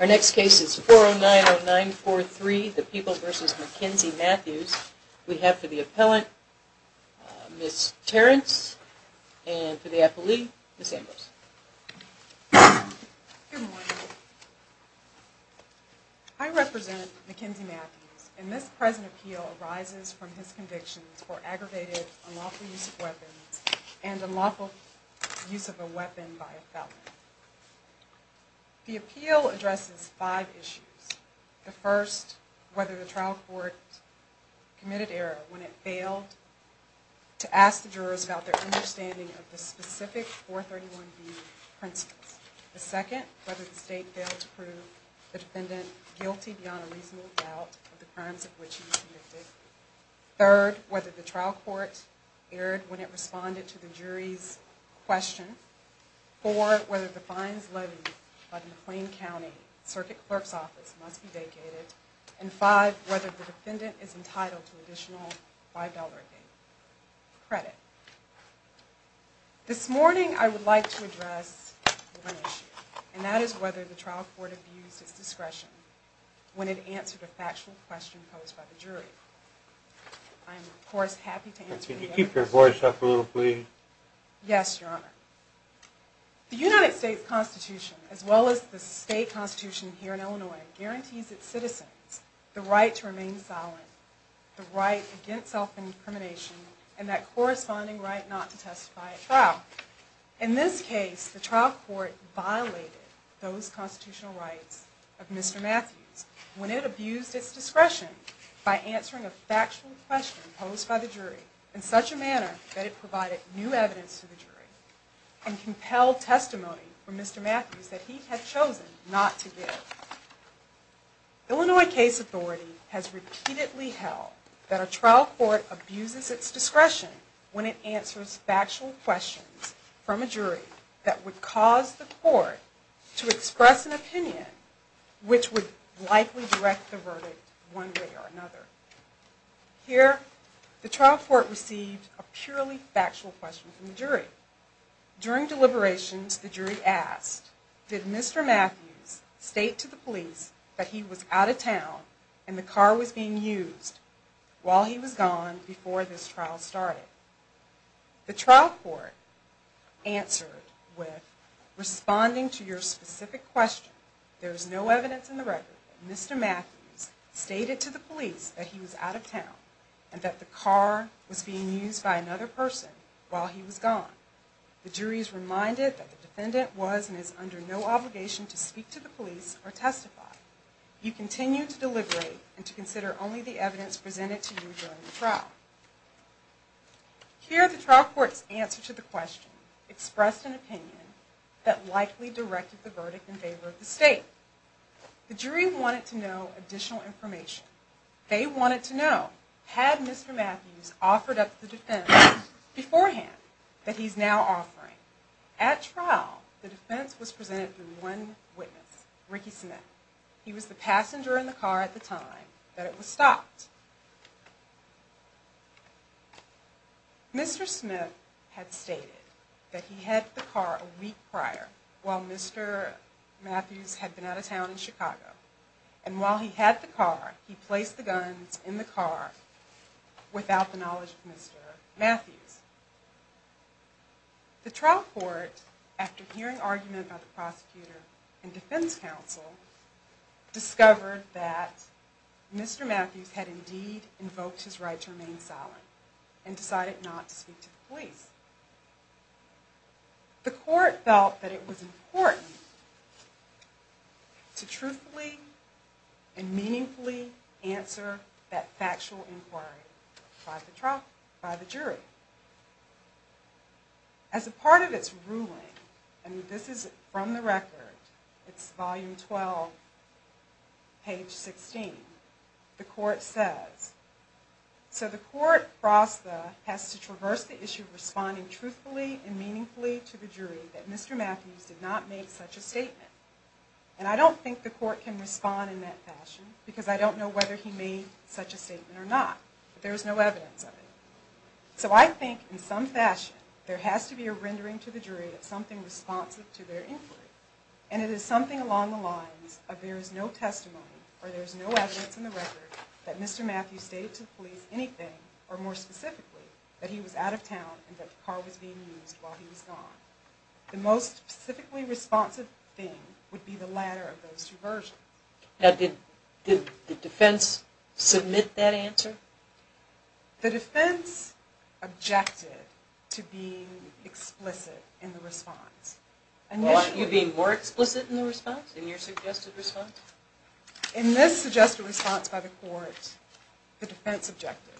Our next case is 4090943, the People v. Mackenzie Matthews. We have for the appellant, Ms. Terrence, and for the appellee, Ms. Ambrose. Good morning. I represent Mackenzie Matthews, and this present appeal arises from his convictions for aggravated unlawful use of weapons and unlawful use of a weapon by a felon. The appeal addresses five issues. The first, whether the trial court committed error when it failed to ask the jurors about their understanding of the specific 431B principles. The second, whether the state failed to prove the defendant guilty beyond a reasonable doubt of the crimes of which he was convicted. Third, whether the trial court erred when it responded to the fact that in McLean County, circuit clerk's office must be vacated. And five, whether the defendant is entitled to additional $5 credit. This morning, I would like to address one issue, and that is whether the trial court abused its discretion when it answered a factual question posed by the jury. I am, of course, happy to answer any questions. Can you keep your voice up a little, please? Yes, Your Honor. The United States Constitution, as well as the state constitution here in Illinois, guarantees its citizens the right to remain silent, the right against self-incrimination, and that corresponding right not to testify at trial. In this case, the trial court violated those constitutional rights of Mr. Matthews when it abused its discretion by answering a factual question posed by the jury in such a manner that it provided new evidence to the jury and compelled testimony from Mr. Matthews that he had chosen not to give. Illinois case authority has repeatedly held that a trial court abuses its discretion when it answers factual questions from a jury that would cause the court to express an opinion which would likely direct the verdict one way or another. Here, the trial court received a purely factual question from the jury. During deliberations, the jury asked, did Mr. Matthews state to the police that he was out of town and the car was being used while he was gone before this trial started? The trial court answered with, responding to your specific question, there is no evidence in the record that Mr. Matthews stated to the police that he was out of town and that the car was being used by another person while he was gone. The jury is reminded that the defendant was and is under no obligation to speak to the police or testify. You continue to deliberate and to consider only the evidence presented to you during the trial. Here, the trial court's answer to the question expressed an opinion that likely directed the verdict in favor of the state. The jury wanted to know additional information. They wanted to know, had Mr. Matthews offered up the defense beforehand that he's now offering? At trial, the defense was presented through one witness, Ricky Smith. He was the passenger in the car at the time that it was stopped. Mr. Smith had stated that he had the car a week prior while Mr. Matthews had been out of town in Chicago. And while he had the car, he placed the guns in the car without the knowledge of Mr. Matthews. The trial court, after hearing argument by the prosecutor and defense counsel, discovered that Mr. Matthews had indeed invoked his right to remain silent and decided not to speak to the police. The court felt that it was important to truthfully and meaningfully answer that factual inquiry by the jury. As a part of its ruling, and this is from the record, it's volume 12, page 16, the court says, so the court has to traverse the issue of responding truthfully and meaningfully to the jury that Mr. Matthews did not make such a statement. And I don't think the court can respond in that fashion because I don't know whether he made such a statement or not, but there is no evidence of it. So I think in some fashion, there has to be a rendering to the jury of something responsive to their inquiry. And it is something along the lines of there is no testimony or there is no evidence in the record that Mr. Matthews stated to the police anything, or more specifically, that he was out of town and that the car was being used while he was gone. The most specifically responsive thing would be the latter of those two versions. Now did the defense submit that answer? The defense objected to being explicit in the response. You being more explicit in the response? In your suggested response? In this suggested response by the court, the defense objected.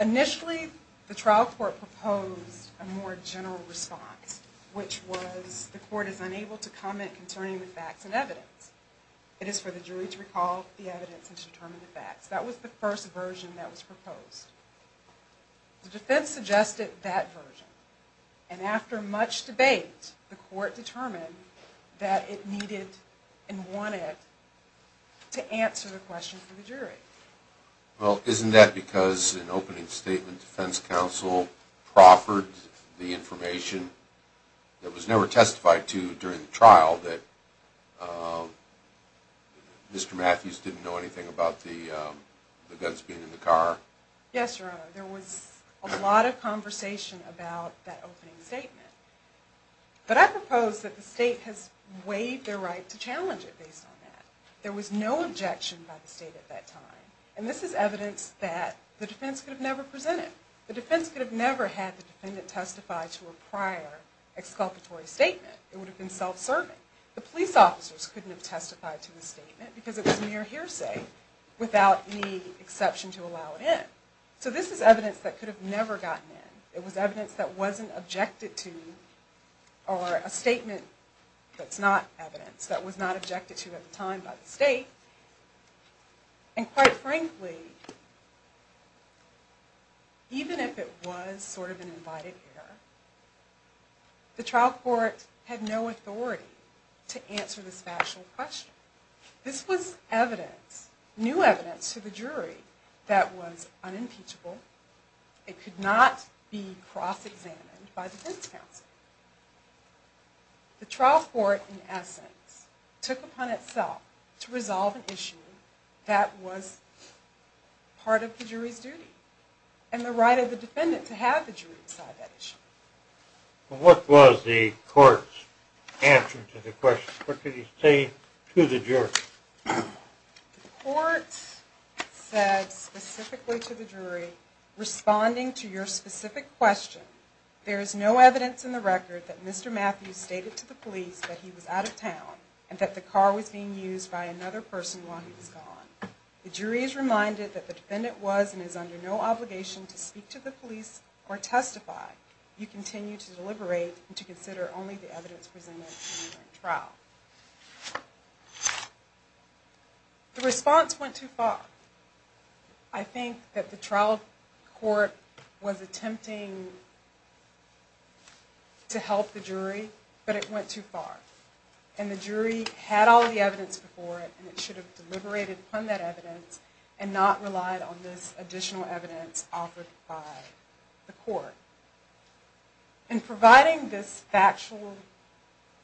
Initially, the trial court proposed a more general response, which was the court is unable to comment concerning the facts and evidence. It is for the jury to recall the evidence and to determine the facts. That was the first version that was proposed. The defense suggested that version. And after much debate, the court determined that it needed and wanted to answer the question for the jury. Well, isn't that because an opening statement defense counsel proffered the information that was never testified to during the trial that Mr. Matthews didn't know anything about the guns being in the car? Yes, Your Honor. There was a lot of conversation about that opening statement. But I propose that the state has waived their right to challenge it based on that. There was no objection by the state at that time. And this is evidence that the defense could have never presented. The defense could have never had the defendant testify to a prior exculpatory statement. It would have been self-serving. The police officers couldn't have testified to the statement because it was mere hearsay without any exception to allow it in. So this is evidence that could have never gotten in. It was evidence that was not objected to at the time by the state. And quite frankly, even if it was sort of an invited error, the trial court had no authority to answer this factual question. This was evidence, new evidence, to the jury that was unimpeachable. It could not be cross-examined by the defense counsel. The trial court, in essence, took upon itself to resolve an issue that was part of the jury's duty and the right of the defendant to have the jury decide that issue. What was the court's answer to the question? What did he say to the jury? The court said specifically to the jury, responding to your specific question, there is no evidence in the record that Mr. Matthews stated to the police that he was out of town and that the car was being used by another person while he was gone. The jury is reminded that the defendant was and is under no obligation to speak to the police or testify. You continue to deliberate and to The response went too far. I think that the trial court was attempting to help the jury, but it went too far. And the jury had all the evidence before it and it should have deliberated upon that evidence and not relied on this additional evidence offered by the court. In providing this factual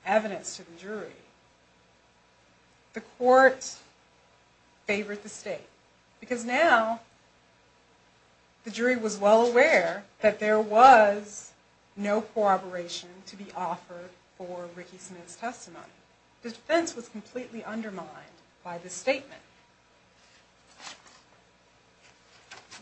evidence to the jury, the court favored the state because now the jury was well aware that there was no corroboration to be offered for Ricky Smith's testimony. The defense was completely undermined by this statement.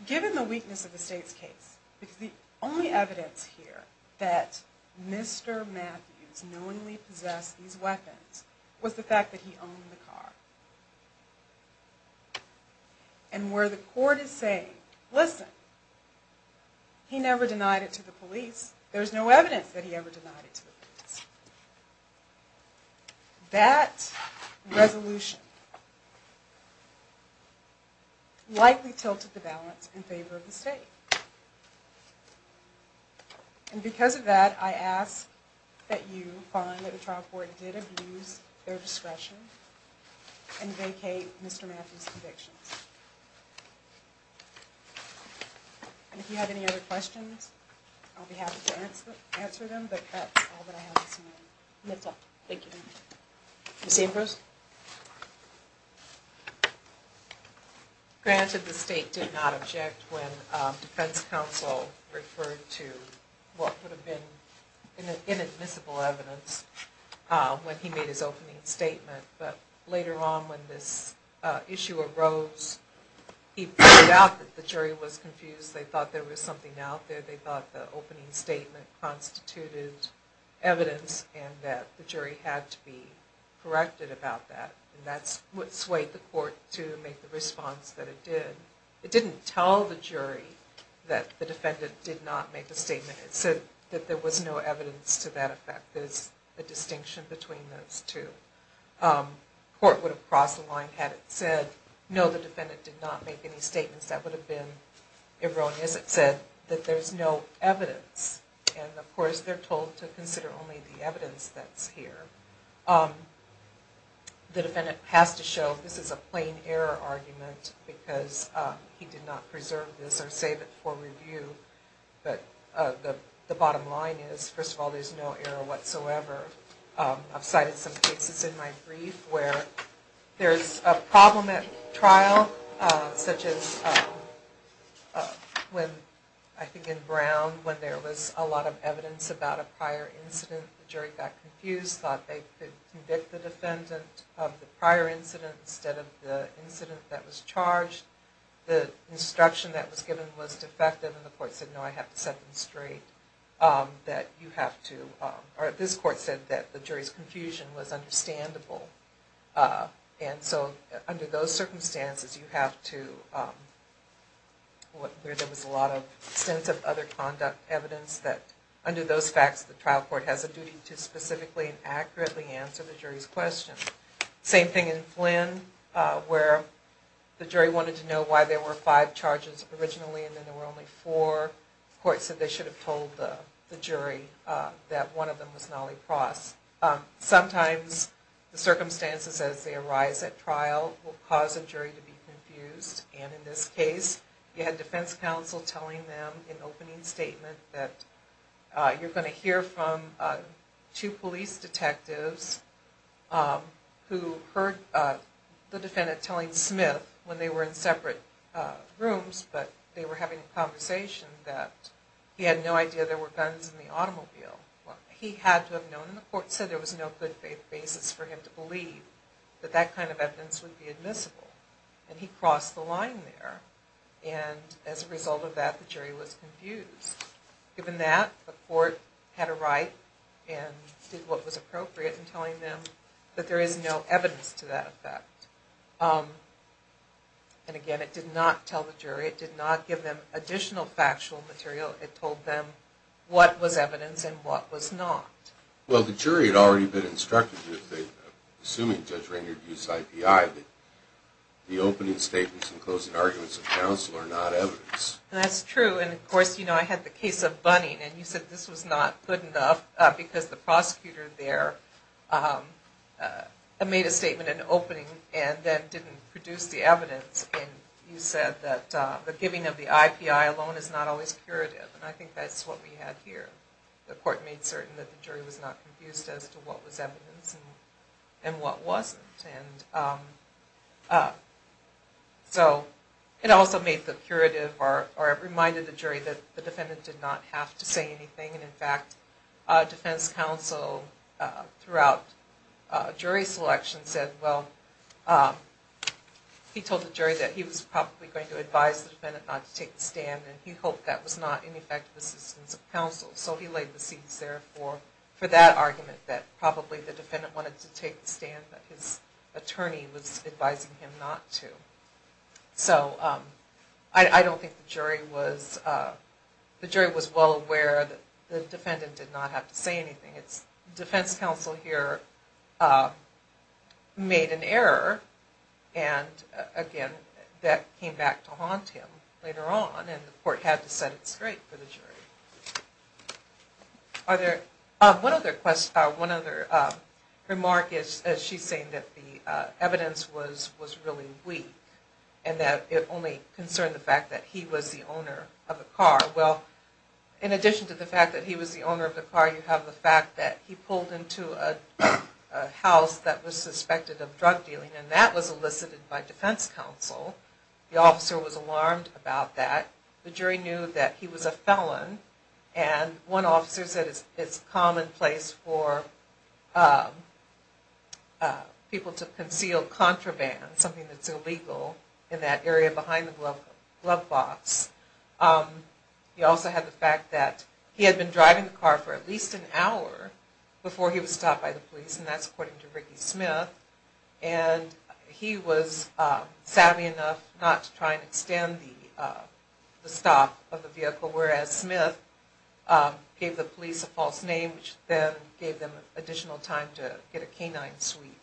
Given the weakness of the state's case, because the only evidence here that Mr. Matthews knowingly possessed these weapons was the fact that he owned the car. And where the court is saying, listen, he never denied it to the police, there is no evidence that he ever denied it to the police. That resolution likely tilted the balance in favor of the state. And because of that, I ask that you find that the trial court did abuse their discretion and vacate Mr. Matthews' convictions. And if you have any other questions, I'll be happy to answer them, but that's all that I have this morning. Yes, ma'am. Thank you. Ms. Ambrose? Granted, the state did not object when defense counsel referred to what would have been inadmissible evidence when he made his opening statement. But later on when this issue arose, he pointed out that the jury was confused. They thought there was something out there. They thought the opening statement constituted evidence and that the jury had to be corrected about that. And that's what swayed the court to make the response that it did. It didn't tell the jury that the defendant did not make a statement. It said that there was no evidence to that effect. There's a distinction between those two. The court would have crossed the line had it said, no, the defendant did not make any statements. That would have been erroneous. It said that there's no evidence. And of course, they're told to consider only the evidence that's here. The defendant has to show this is a plain error argument because he did not preserve this or save it for review. But the bottom line is, first of all, there's no error whatsoever. I've cited some cases in my brief where there's a problem at trial such as when, I think in Brown, when there was a lot of evidence about a prior incident. The jury got confused, thought they could convict the defendant of the prior incident instead of the incident that was charged. The instruction that was given was defective and the court said, no, I have to set them straight. This court said that the jury's confusion was understandable. And so under those circumstances, you have to, there was a lot of extensive other conduct evidence that under those facts, the trial court has a duty to specifically and accurately answer the jury's questions. Same thing in Flynn where the jury wanted to know why there were five charges originally and then there were only four. The court said they should have told the jury that one of them was Nolly Cross. Sometimes the circumstances as they arise at trial will cause a jury to be confused. And in this case, you had defense counsel telling them in opening statement that you're going to hear from two police detectives who heard the defendant telling Smith when they were in separate rooms, but they were having a conversation that he had no idea there were guns in the automobile. He had to have known and the court said there was no good basis for him to believe that that kind of evidence would be admissible. And he crossed the line there. And as a result of that, the jury was confused. Given that, the court had a right and did what was appropriate in telling them that there is no evidence to that effect. And again, it did not tell the jury. It did not give them additional factual material. It told them what was evidence and what was not. Well, the jury had already been instructed, assuming Judge Rainer used IPI, that the opening statements and closing arguments of counsel are not evidence. That's true. And of course, you know, I had the case of Bunning and you said this was not good enough because the giving of the IPI alone is not always curative. And I think that's what we had here. The court made certain that the jury was not confused as to what was evidence and what wasn't. And so it also made the curative or it reminded the jury that the defendant did not have to say anything. And in fact, defense counsel throughout jury selection said, well, he told the jury that he was probably going to advise the defendant not to take the stand and he hoped that was not an effective assistance of counsel. So he laid the seats there for that argument that probably the defendant wanted to take the stand that his attorney was advising him not to. So I don't think the jury was, the jury was well aware that the defendant did not have to say anything. It's defense counsel here made an error. And again, that came back to haunt him later on and the court had to set it straight for the jury. Are there, one other question, one other remark is she's saying that the evidence was really weak and that it only concerned the car. Well, in addition to the fact that he was the owner of the car, you have the fact that he pulled into a house that was suspected of drug dealing and that was elicited by defense counsel. The officer was alarmed about that. The jury knew that he was a felon and one officer said it's commonplace for people to conceal contraband, something that's illegal in that area behind the glove box. You also have the fact that he had been driving the car for at least an hour before he was stopped by the police and that's according to Ricky Smith. And he was savvy enough not to try and extend the stop of the vehicle, whereas Smith gave the police a false name, which then gave them additional time to get a canine sweep.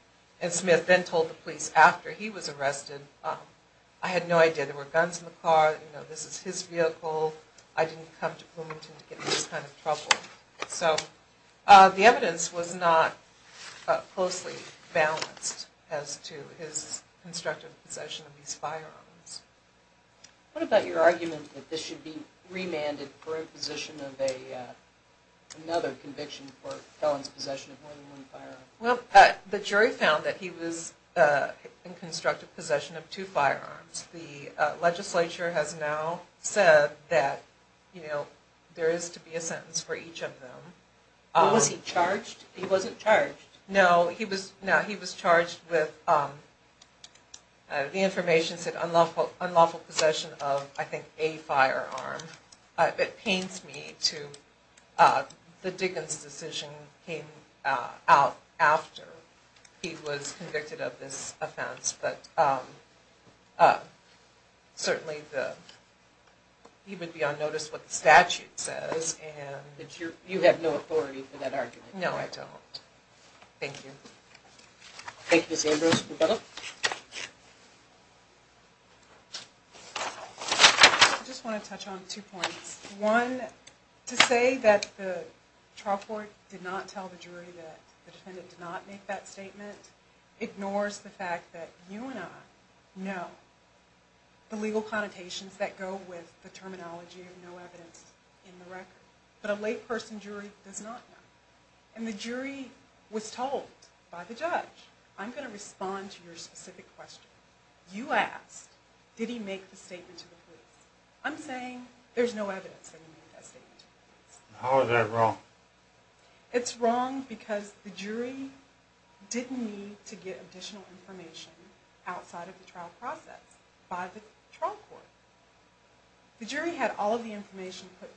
And Smith then told the police after he was arrested, I had no idea there were guns in the car, this is his vehicle, I didn't come to Bloomington to get into this kind of trouble. So the evidence was not closely balanced as to his constructive possession of these firearms. What about your argument that this should be remanded for imposition of another conviction for felon's possession of more than one firearm? Well, the jury found that he was in constructive possession of two firearms. The legislature has now said that there is to be a sentence for each of them. Was he charged? He wasn't charged. No, he was charged with, the information said unlawful possession of I think a firearm. It pains me to, the Diggins decision came out after he was convicted of this offense, but certainly he would be on notice of what the statute says. You have no authority for that argument? No, I don't. Thank you. Thank you Ms. Ambrose. I just want to touch on two points. One, to say that the trial court did not tell the jury that the defendant did not make that statement ignores the fact that you and I know the legal connotations that go with the terminology of no evidence in the record. But a late person jury does not know. And the jury was told by the judge, I'm going to respond to your specific question. You asked, did he make the statement to the police? I'm saying there's no evidence that he made that statement to the police. How is that wrong? It's wrong because the jury didn't need to get additional information outside of the trial process by the trial court. The jury had all of the information put together,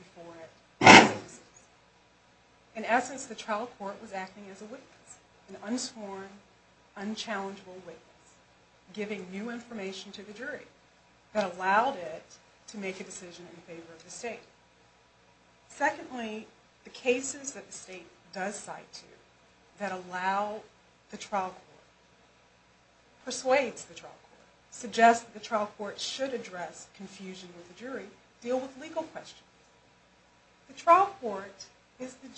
giving new information to the jury that allowed it to make a decision in favor of the state. Secondly, the cases that the state does cite to that allow the trial court, persuades the trial court, suggest that the trial court should address confusion with the jury, deal with legal questions. The jury is the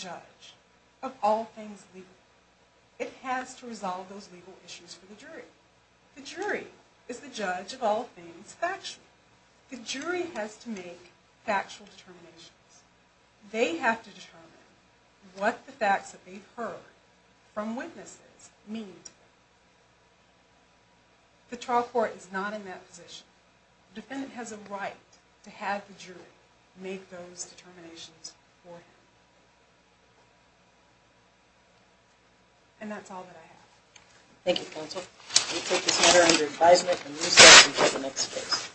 judge of all things factual. The jury has to make factual determinations. They have to determine what the facts that they've heard from witnesses mean to them. The trial court is not in that position. The defendant has a right to have the jury make those determinations for him. And that's all that I have. Thank you counsel. We'll take this matter under advisement and move on to the next case.